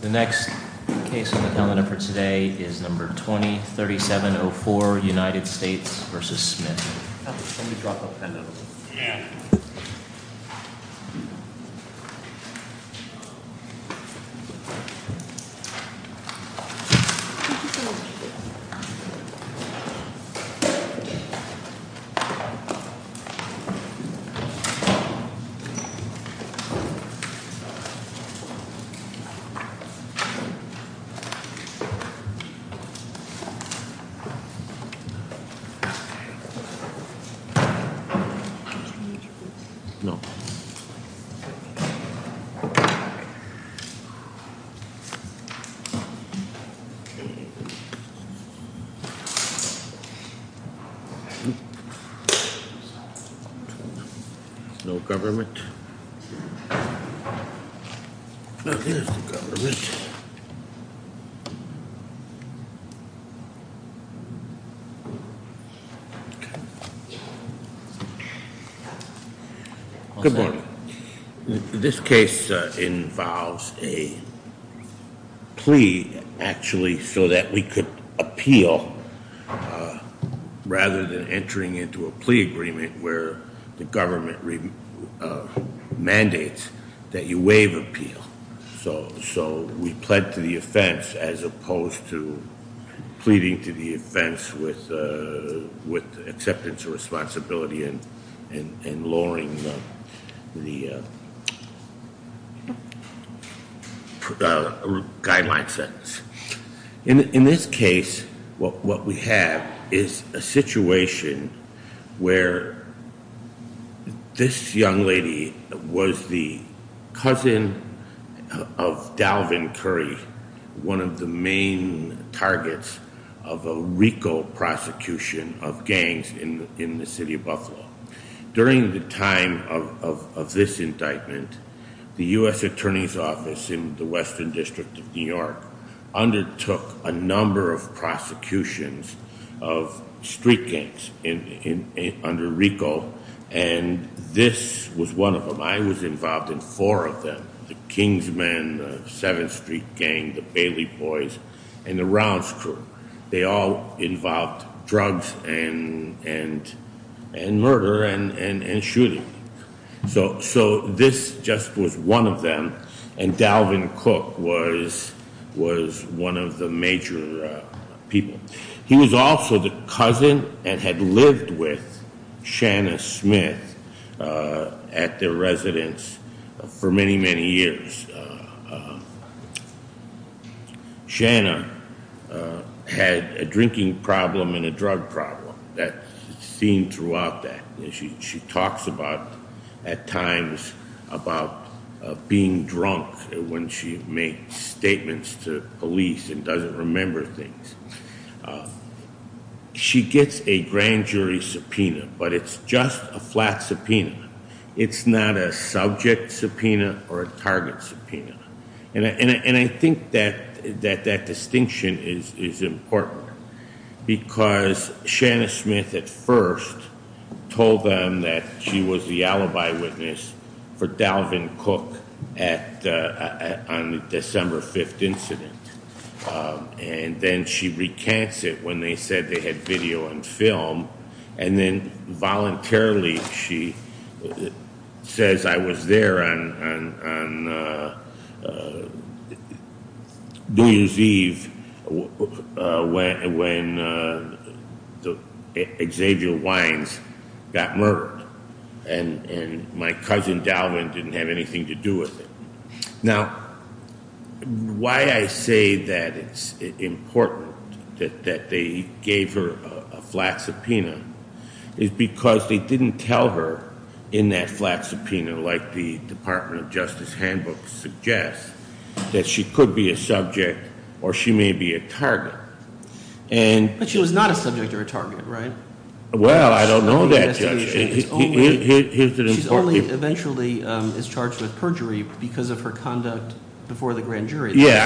The next case on the calendar for today is No. 20-3704, United States v. Smith No. No government. I think it's the government. Good morning. This case involves a plea, actually, so that we could appeal rather than entering into a plea agreement where the government mandates that you waive appeal. So we pled to the offense as opposed to pleading to the offense with acceptance and responsibility and lowering the guideline sentence. In this case, what we have is a situation where this young lady was the cousin of Dalvin Curry, one of the main targets of a RICO prosecution of gangs in the city of Buffalo. During the time of this indictment, the U.S. Attorney's Office in the Western District of New York undertook a number of prosecutions of street gangs under RICO, and this was one of them. I was involved in four of them, the Kingsmen, the 7th Street Gang, the Bailey Boys, and the Rounds Crew. They all involved drugs and murder and shooting. So this just was one of them, and Dalvin Cook was one of the major people. He was also the cousin and had lived with Shanna Smith at their residence for many, many years. Shanna had a drinking problem and a drug problem. That's seen throughout that. She talks about, at times, about being drunk when she makes statements to police and doesn't remember things. She gets a grand jury subpoena, but it's just a flat subpoena. It's not a subject subpoena or a target subpoena. I think that distinction is important because Shanna Smith at first told them that she was the alibi witness for Dalvin Cook on the December 5th incident, and then she recants it when they said they had video and film, and then voluntarily she says, I was there on New Year's Eve when Xavier Wines got murdered, and my cousin Dalvin didn't have anything to do with it. Now, why I say that it's important that they gave her a flat subpoena is because they didn't tell her, in that flat subpoena, like the Department of Justice handbook suggests, that she could be a subject or she may be a target. And- But she was not a subject or a target, right? She's only eventually is charged with perjury because of her conduct before the grand jury. Yeah,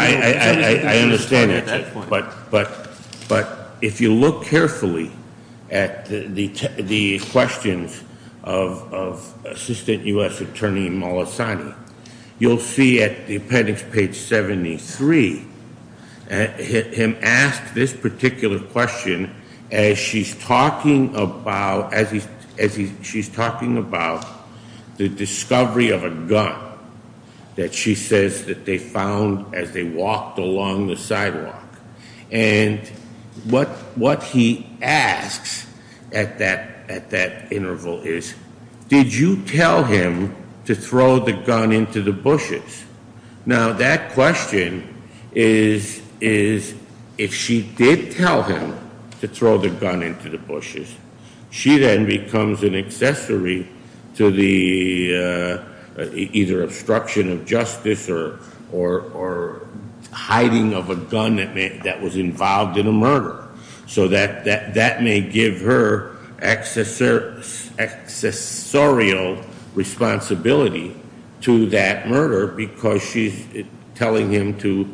I understand that, but if you look carefully at the questions of Assistant US Attorney Molisani, you'll see at the appendix page 73, him ask this particular question as she's talking about the discovery of a gun that she says that they found as they walked along the sidewalk. And what he asks at that interval is, did you tell him to throw the gun into the bushes? Now that question is, if she did tell him to throw the gun into the bushes, she then becomes an accessory to the either obstruction of justice or hiding of a gun that was involved in a murder. So that may give her accessorial responsibility to that murder because she's telling him to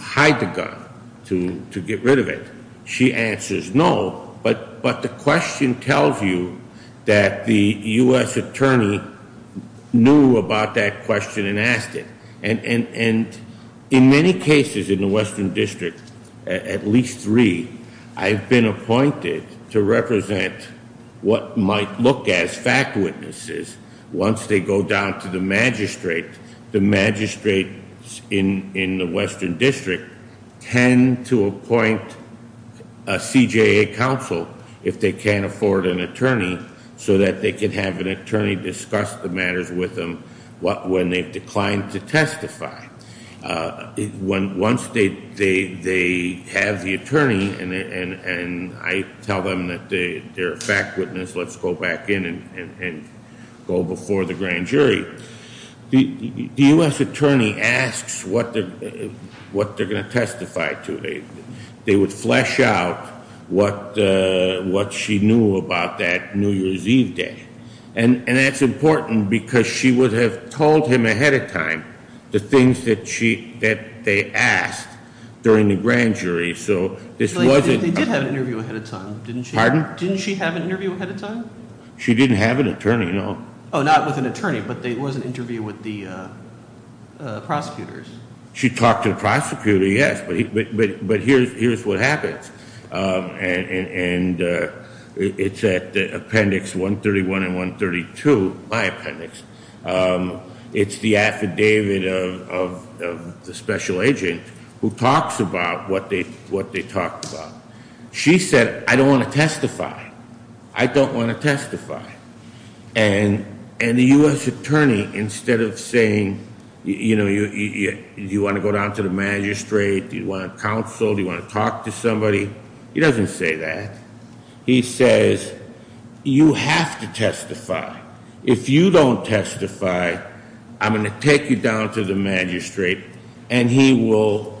hide the gun, to get rid of it. She answers no, but the question tells you that the US attorney knew about that question and asked it. And in many cases in the Western District, at least three, I've been appointed to represent what might look as fact witnesses once they go down to the magistrate, the magistrates in the Western District tend to appoint a CJA counsel if they can't afford an attorney so that they can have an attorney discuss the matters with them when they've declined to testify. Once they have the attorney and I tell them that they're a fact witness, let's go back in and go before the grand jury. The US attorney asks what they're going to testify to. They would flesh out what she knew about that New Year's Eve day. And that's important because she would have told him ahead of time the things that they asked during the grand jury. So this wasn't- She didn't have an attorney, no. Not with an attorney, but there was an interview with the prosecutors. She talked to the prosecutor, yes, but here's what happens. And it's at appendix 131 and 132, my appendix. It's the affidavit of the special agent who talks about what they talked about. She said, I don't want to testify. I don't want to testify. And the US attorney, instead of saying, do you want to go down to the magistrate? Do you want a counsel? Do you want to talk to somebody? He doesn't say that. He says, you have to testify. If you don't testify, I'm going to take you down to the magistrate and he will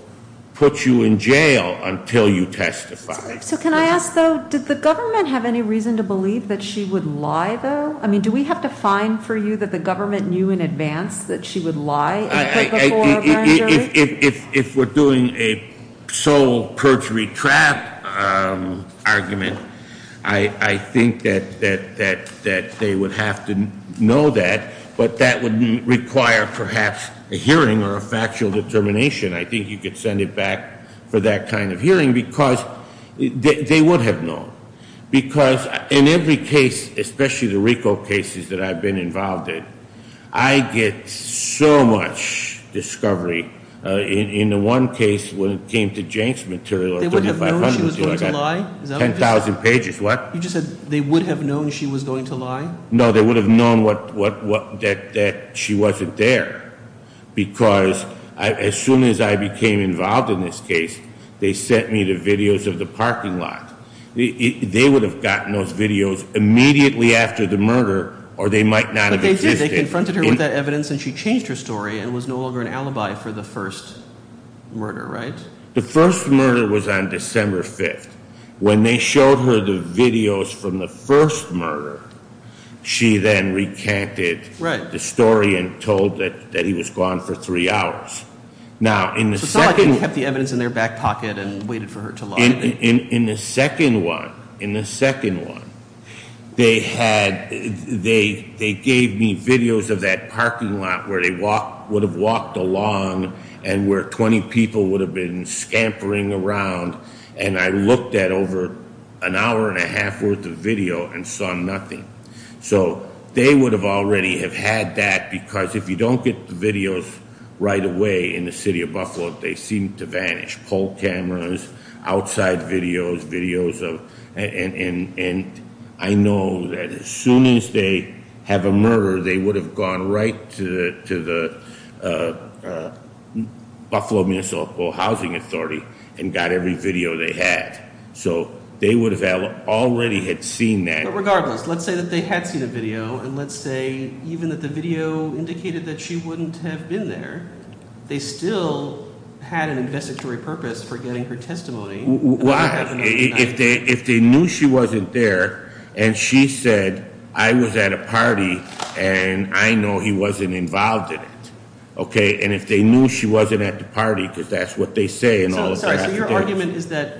put you in jail until you testify. So can I ask, though, did the government have any reason to believe that she would lie, though? I mean, do we have to find for you that the government knew in advance that she would lie before a grand jury? If we're doing a sole perjury trap argument, I think that they would have to know that. But that would require, perhaps, a hearing or a factual determination. I think you could send it back for that kind of hearing, because they would have known. Because in every case, especially the RICO cases that I've been involved in, I get so much discovery. In the one case when it came to Jane's material, 3,500, so I got 10,000 pages, what? You just said they would have known she was going to lie? No, they would have known that she wasn't there. Because as soon as I became involved in this case, they sent me the videos of the parking lot. They would have gotten those videos immediately after the murder, or they might not have existed. But they did, they confronted her with that evidence and she changed her story and was no longer an alibi for the first murder, right? The first murder was on December 5th. When they showed her the videos from the first murder, she then recanted the story and told that he was gone for three hours. Now, in the second- So it's not like they kept the evidence in their back pocket and waited for her to lie. In the second one, they gave me videos of that parking lot where they would have walked along, and where 20 people would have been scampering around. And I looked at over an hour and a half worth of video and saw nothing. So they would have already have had that, because if you don't get the videos right away in the city of Buffalo, they seem to vanish. Polk cameras, outside videos, videos of, and I know that as soon as they have a murder, they would have gone right to the Buffalo Municipal Housing Authority and got every video they had. So they would have already had seen that. But regardless, let's say that they had seen a video, and let's say even that the video indicated that she wouldn't have been there. They still had an investigatory purpose for getting her testimony. Why? If they knew she wasn't there, and she said, I was at a party, and I know he wasn't involved in it. Okay, and if they knew she wasn't at the party, because that's what they say, and all of that. So your argument is that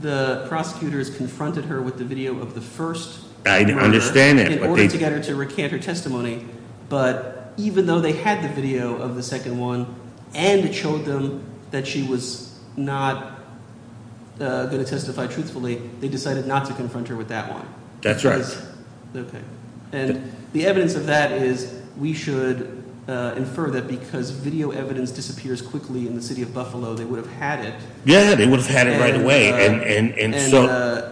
the prosecutors confronted her with the video of the first murder- I understand that, but they- In order to get her to recant her testimony. But even though they had the video of the second one, and showed them that she was not going to testify truthfully, they decided not to confront her with that one. That's right. Okay, and the evidence of that is, we should infer that because video evidence disappears quickly in the city of Buffalo, they would have had it. Yeah, they would have had it right away,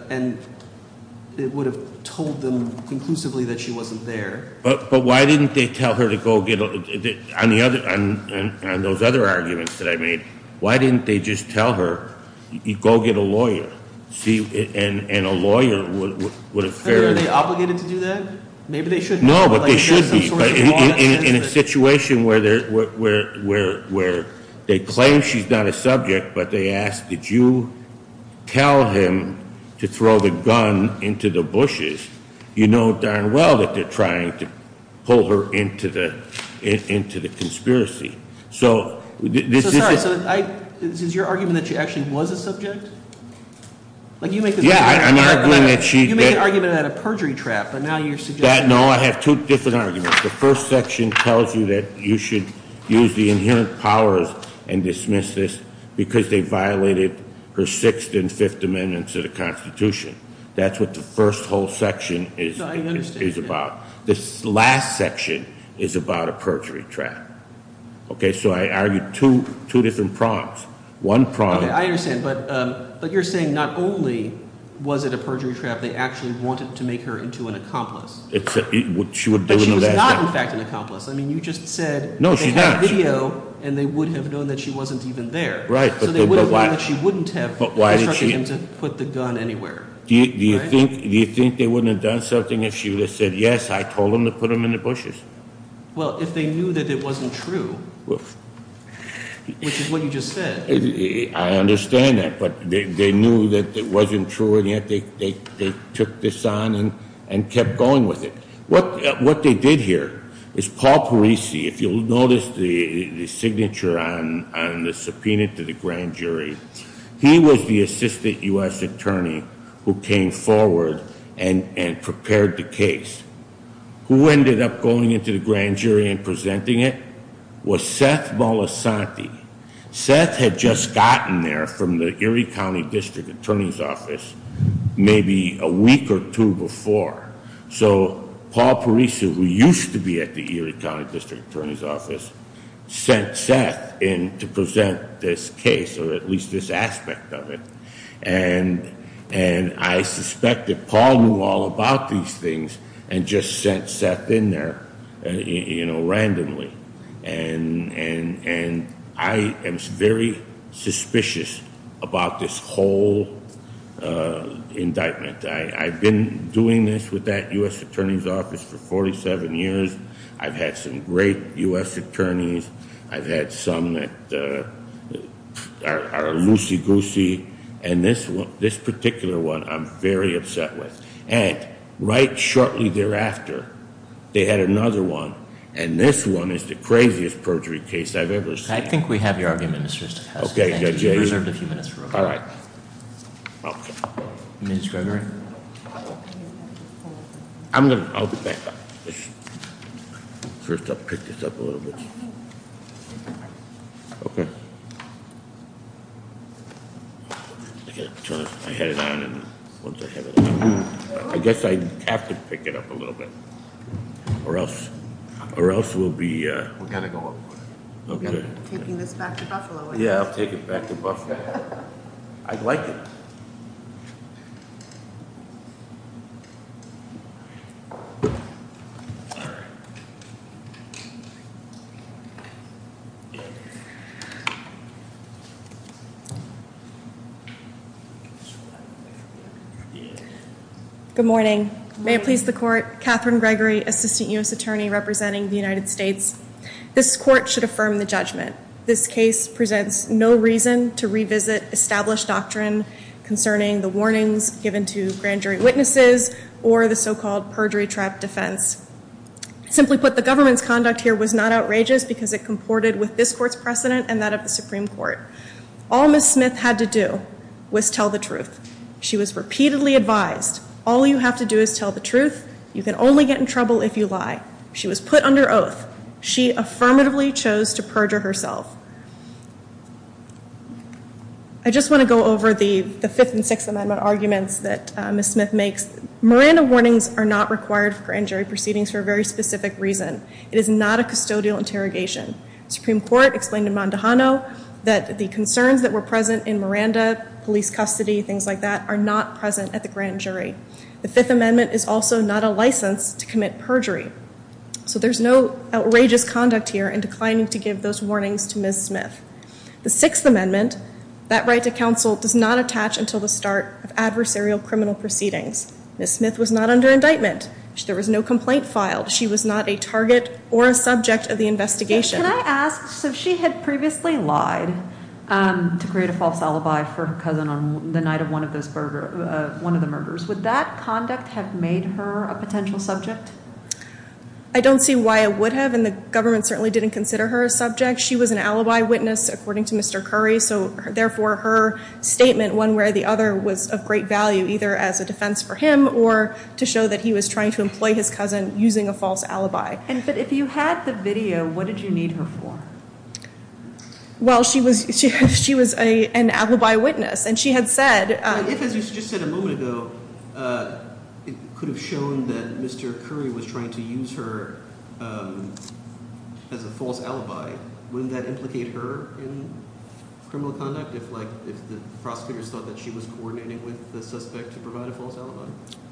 and it would have told them conclusively that she wasn't there. But why didn't they tell her to go get, on those other arguments that I made, why didn't they just tell her, go get a lawyer? See, and a lawyer would have fairly- Are they obligated to do that? Maybe they should be. No, but they should be. But in a situation where they claim she's not a subject, but they ask, did you tell him to throw the gun into the bushes? You know darn well that they're trying to pull her into the conspiracy. So this is- Yeah, I'm arguing that she- You made an argument about a perjury trap, but now you're suggesting- No, I have two different arguments. The first section tells you that you should use the inherent powers and dismiss this because they violated her sixth and fifth amendments to the Constitution. That's what the first whole section is about. This last section is about a perjury trap. Okay, so I argued two different prompts. One prompt- Okay, I understand, but you're saying not only was it a perjury trap, they actually wanted to make her into an accomplice. It's a, she would do it in the last- But she was not, in fact, an accomplice. I mean, you just said- No, she's not. They had video, and they would have known that she wasn't even there. Right, but why- So they would have known that she wouldn't have instructed him to put the gun anywhere. Do you think they wouldn't have done something if she would have said, yes, I told them to put them in the bushes? Well, if they knew that it wasn't true, which is what you just said. I understand that, but they knew that it wasn't true, and yet they took this on and kept going with it. What they did here is Paul Parisi, if you'll notice the signature on the subpoena to the grand jury. He was the assistant US attorney who came forward and prepared the case. Who ended up going into the grand jury and presenting it was Seth Molisanti. Seth had just gotten there from the Erie County District Attorney's Office maybe a week or two before. So Paul Parisi, who used to be at the Erie County District Attorney's Office, sent Seth in to present this case, or at least this aspect of it. And I suspect that Paul knew all about these things and just sent Seth in there randomly. And I am very suspicious about this whole indictment. I've been doing this with that US Attorney's Office for 47 years. I've had some great US attorneys. I've had some that are loosey goosey. And this particular one, I'm very upset with. And right shortly thereafter, they had another one. And this one is the craziest perjury case I've ever seen. I think we have your argument, Mr. Stefanski. Okay, Judge Ager. You're reserved a few minutes for rebuttal. All right, okay. Ms. Gregory? I'm going to, first I'll pick this up a little bit. Okay. I guess I have to pick it up a little bit, or else we'll be- We're going to go up for it, we're going to be taking this back to Buffalo, aren't we? Yeah, I'll take it back to Buffalo, I'd like it. Good morning. May it please the court, Katherine Gregory, Assistant US Attorney representing the United States. This court should affirm the judgment. This case presents no reason to revisit established doctrine concerning the warnings given to grand jury witnesses or the so-called perjury trap defense. Simply put, the government's conduct here was not outrageous because it comported with this court's precedent and that of the Supreme Court. All Ms. Smith had to do was tell the truth. She was repeatedly advised, all you have to do is tell the truth. You can only get in trouble if you lie. She was put under oath. She affirmatively chose to perjure herself. I just want to go over the Fifth and Sixth Amendment arguments that Ms. Smith makes. Miranda warnings are not required for grand jury proceedings for a very specific reason. It is not a custodial interrogation. Supreme Court explained to Mondahano that the concerns that were present in Miranda, police custody, things like that, are not present at the grand jury. The Fifth Amendment is also not a license to commit perjury. So there's no outrageous conduct here in declining to give those warnings to Ms. Smith. The Sixth Amendment, that right to counsel, does not attach until the start of adversarial criminal proceedings. Ms. Smith was not under indictment. There was no complaint filed. She was not a target or a subject of the investigation. Can I ask, so she had previously lied to create a false alibi for her cousin on the night of one of the murders. Would that conduct have made her a potential subject? I don't see why it would have, and the government certainly didn't consider her a subject. She was an alibi witness, according to Mr. Curry. So therefore, her statement, one way or the other, was of great value, either as a defense for him or to show that he was trying to employ his cousin using a false alibi. And but if you had the video, what did you need her for? Well, she was an alibi witness, and she had said- But if, as you just said a moment ago, it could have shown that Mr. Curry was trying to use her as a false alibi, wouldn't that implicate her in criminal conduct if the prosecutors thought that she was coordinating with the suspect to provide a false alibi?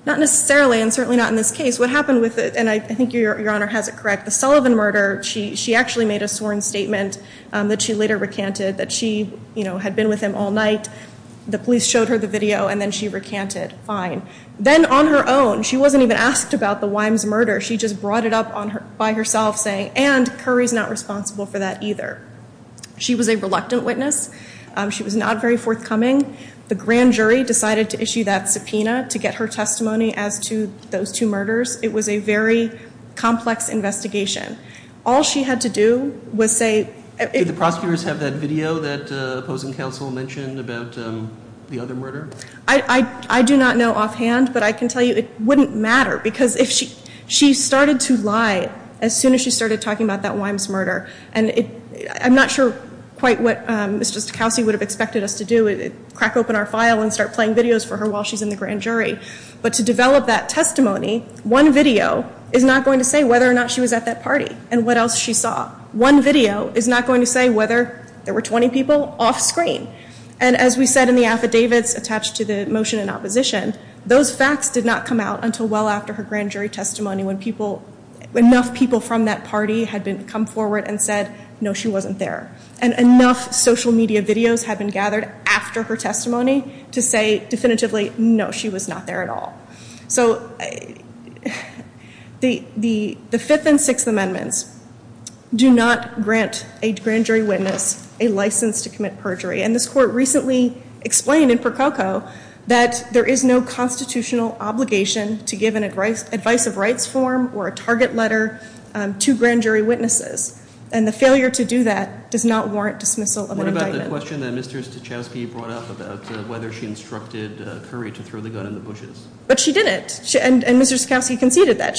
Not necessarily, and certainly not in this case. What happened with it, and I think your honor has it correct, the Sullivan murder, she actually made a sworn statement that she later recanted, that she had been with him all night. The police showed her the video, and then she recanted, fine. Then on her own, she wasn't even asked about the Wimes murder. She just brought it up by herself, saying, and Curry's not responsible for that either. She was a reluctant witness. She was not very forthcoming. The grand jury decided to issue that subpoena to get her testimony as to those two murders. It was a very complex investigation. All she had to do was say- Did the prosecutors have that video that opposing counsel mentioned about the other murder? I do not know offhand, but I can tell you it wouldn't matter, because if she started to lie as soon as she started talking about that Wimes murder, and I'm not sure quite what Mr. Stokowski would have expected us to do, crack open our file and start playing videos for her while she's in the grand jury. But to develop that testimony, one video is not going to say whether or not she was at that party, and what else she saw. One video is not going to say whether there were 20 people off screen. And as we said in the affidavits attached to the motion in opposition, those facts did not come out until well after her grand jury testimony when enough people from that party had come forward and said, no, she wasn't there. And enough social media videos had been gathered after her testimony to say definitively, no, she was not there at all. So, the fifth and sixth amendments do not grant a grand jury witness a license to commit perjury. And this court recently explained in Prococo that there is no constitutional obligation to give an advice of rights form or a target letter to grand jury witnesses, and the failure to do that does not warrant dismissal of indictment. What about the question that Mr. Stokowski brought up about whether she instructed Curry to throw the gun in the bushes? But she didn't, and Mr. Stokowski conceded that.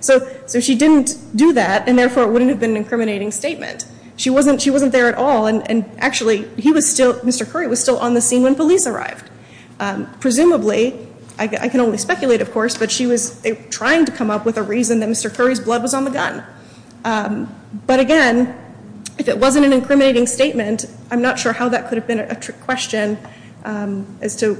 So she didn't do that, and therefore it wouldn't have been an incriminating statement. She wasn't there at all, and actually, Mr. Curry was still on the scene when police arrived. Presumably, I can only speculate, of course, but she was trying to come up with a reason that Mr. Curry's blood was on the gun. But again, if it wasn't an incriminating statement, I'm not sure how that could have been a trick question. As to,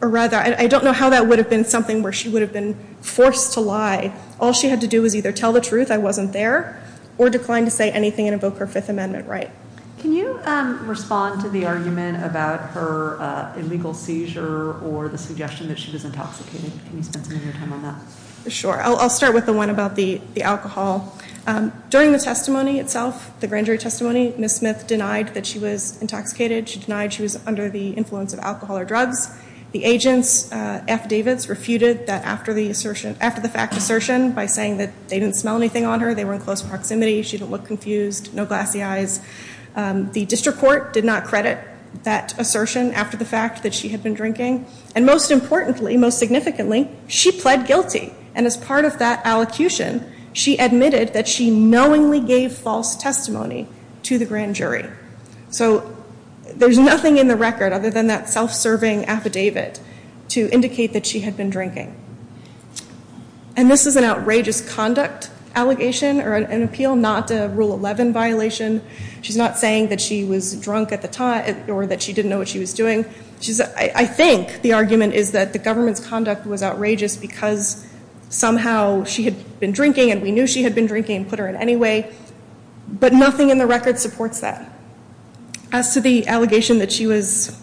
or rather, I don't know how that would have been something where she would have been forced to lie. All she had to do was either tell the truth, I wasn't there, or decline to say anything and invoke her Fifth Amendment right. Can you respond to the argument about her illegal seizure or the suggestion that she was intoxicated? Can you spend some of your time on that? Sure, I'll start with the one about the alcohol. During the testimony itself, the grand jury testimony, Ms. Smith denied that she was intoxicated. The agent's affidavits refuted that after the fact assertion by saying that they didn't smell anything on her. They were in close proximity, she didn't look confused, no glassy eyes. The district court did not credit that assertion after the fact that she had been drinking. And most importantly, most significantly, she pled guilty. And as part of that allocution, she admitted that she knowingly gave false testimony to the grand jury. So there's nothing in the record other than that self-serving affidavit to indicate that she had been drinking. And this is an outrageous conduct allegation or an appeal, not a Rule 11 violation. She's not saying that she was drunk at the time or that she didn't know what she was doing. I think the argument is that the government's conduct was outrageous because somehow she had been drinking and we knew she had been drinking and put her in any way. But nothing in the record supports that. As to the allegation that she was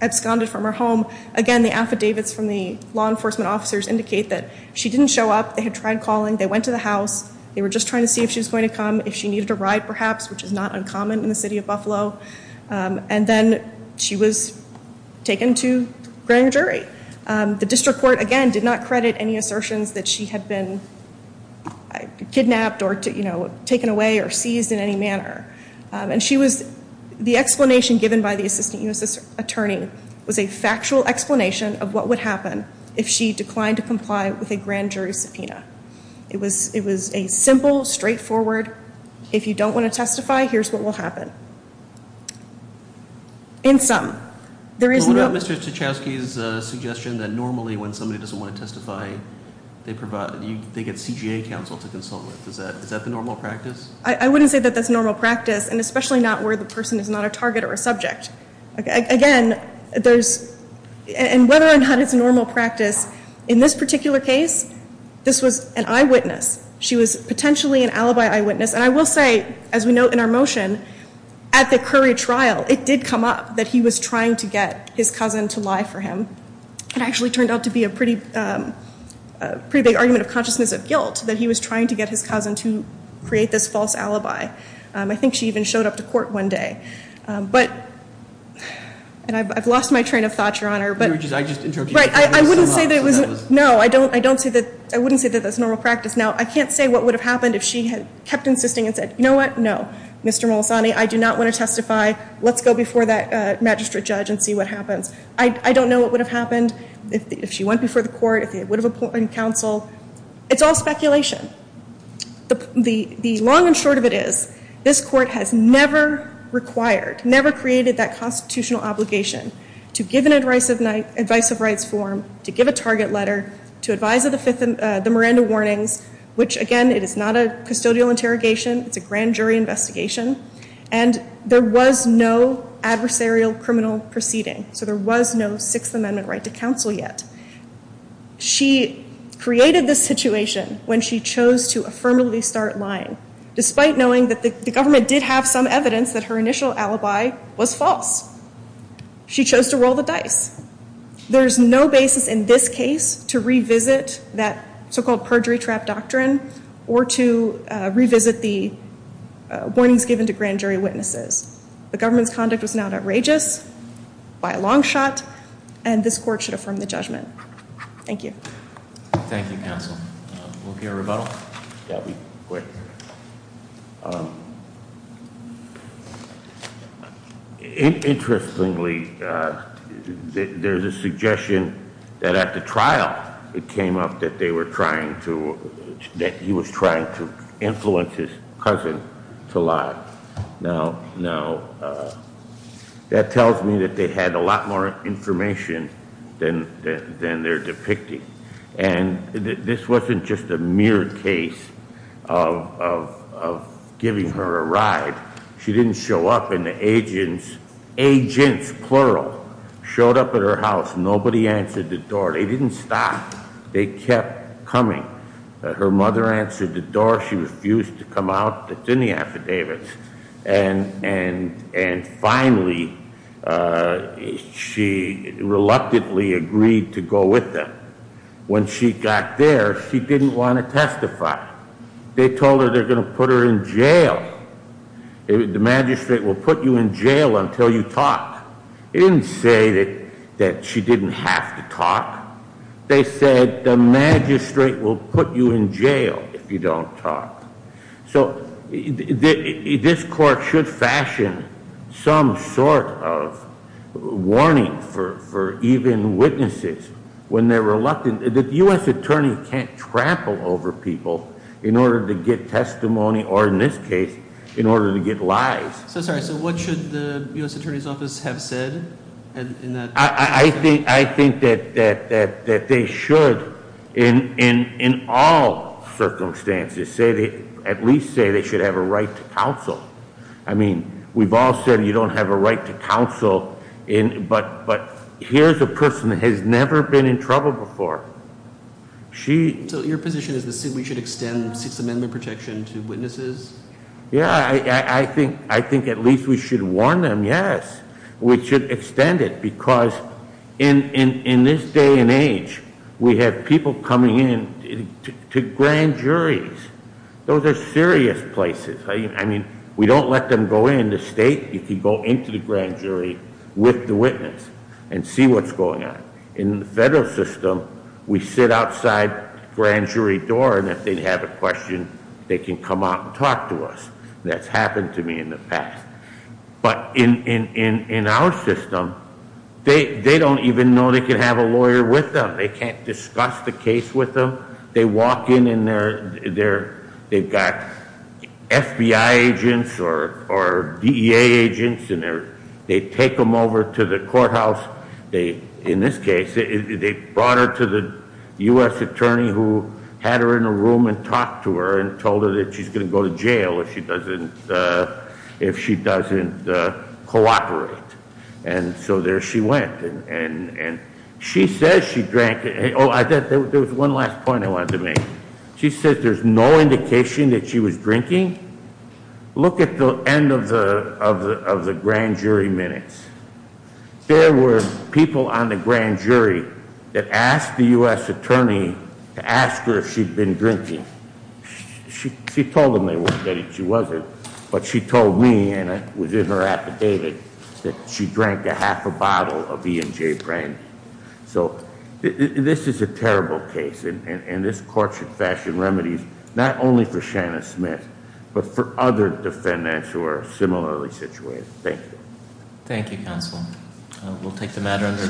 absconded from her home, again, the affidavits from the law enforcement officers indicate that she didn't show up. They had tried calling. They went to the house. They were just trying to see if she was going to come, if she needed a ride perhaps, which is not uncommon in the city of Buffalo. And then she was taken to grand jury. The district court, again, did not credit any assertions that she had been kidnapped or taken away or seized in any manner. And the explanation given by the assistant U.S. attorney was a factual explanation of what would happen if she declined to comply with a grand jury subpoena. It was a simple, straightforward, if you don't want to testify, here's what will happen. In sum, there is no- Is that the normal practice? I wouldn't say that that's normal practice, and especially not where the person is not a target or a subject. Again, there's, and whether or not it's normal practice, in this particular case, this was an eyewitness. She was potentially an alibi eyewitness. And I will say, as we note in our motion, at the Curry trial, it did come up that he was trying to get his cousin to lie for him. It actually turned out to be a pretty big argument of consciousness of guilt that he was trying to get his cousin to create this false alibi. I think she even showed up to court one day. But, and I've lost my train of thought, Your Honor, but- I just interrupted you. Right, I wouldn't say that it was, no, I don't say that, I wouldn't say that that's normal practice. Now, I can't say what would have happened if she had kept insisting and said, you know what, no, Mr. Molisani, I do not want to testify. Let's go before that magistrate judge and see what happens. I don't know what would have happened if she went before the court, if it would have appointed counsel. It's all speculation. The long and short of it is, this court has never required, never created that constitutional obligation to give an advice of rights form, to give a target letter, to advise of the Miranda warnings. Which, again, it is not a custodial interrogation, it's a grand jury investigation. And there was no adversarial criminal proceeding. So there was no Sixth Amendment right to counsel yet. She created this situation when she chose to affirmatively start lying, despite knowing that the government did have some evidence that her initial alibi was false. She chose to roll the dice. There's no basis in this case to revisit that so-called perjury trap doctrine, or to revisit the warnings given to grand jury witnesses. The government's conduct was now outrageous by a long shot, and this court should affirm the judgment. Thank you. Thank you, counsel. Will there be a rebuttal? Yeah, we quit. Interestingly, there's a suggestion that at the trial, it came up that he was trying to influence his cousin to lie. Now, that tells me that they had a lot more information than they're depicting. And this wasn't just a mere case of giving her a ride. She didn't show up and the agents, agents, plural, showed up at her house. Nobody answered the door. They didn't stop. They kept coming. Her mother answered the door. She refused to come out. It's in the affidavits. And finally, she reluctantly agreed to go with them. When she got there, she didn't want to testify. They told her they're going to put her in jail. The magistrate will put you in jail until you talk. It didn't say that she didn't have to talk. They said the magistrate will put you in jail if you don't talk. So this court should fashion some sort of warning for even witnesses when they're reluctant, that the US attorney can't trample over people in order to get testimony, or in this case, in order to get lies. So sorry, so what should the US Attorney's Office have said in that? I think that they should, in all circumstances, at least say they should have a right to counsel. I mean, we've all said you don't have a right to counsel, but here's a person that has never been in trouble before. She- So your position is we should extend Sixth Amendment protection to witnesses? Yeah, I think at least we should warn them, yes. We should extend it, because in this day and age, we have people coming in to grand juries. Those are serious places. I mean, we don't let them go in the state. You can go into the grand jury with the witness and see what's going on. In the federal system, we sit outside the grand jury door, and if they have a question, they can come out and talk to us. That's happened to me in the past. But in our system, they don't even know they can have a lawyer with them. They can't discuss the case with them. They walk in and they've got FBI agents or DEA agents, and they take them over to the courthouse. In this case, they brought her to the US attorney who had her in a room and told her that she's going to go to jail if she doesn't cooperate. And so there she went. And she says she drank, there was one last point I wanted to make. She said there's no indication that she was drinking. Look at the end of the grand jury minutes. There were people on the grand jury that asked the US attorney to ask her if she'd been drinking. She told them that she wasn't, but she told me, and I was in her affidavit, that she drank a half a bottle of E&J brandy. So this is a terrible case, and this court should fashion remedies, not only for Shanna Smith, but for other defendants who are similarly situated. Thank you. Thank you, counsel. We'll take the matter under.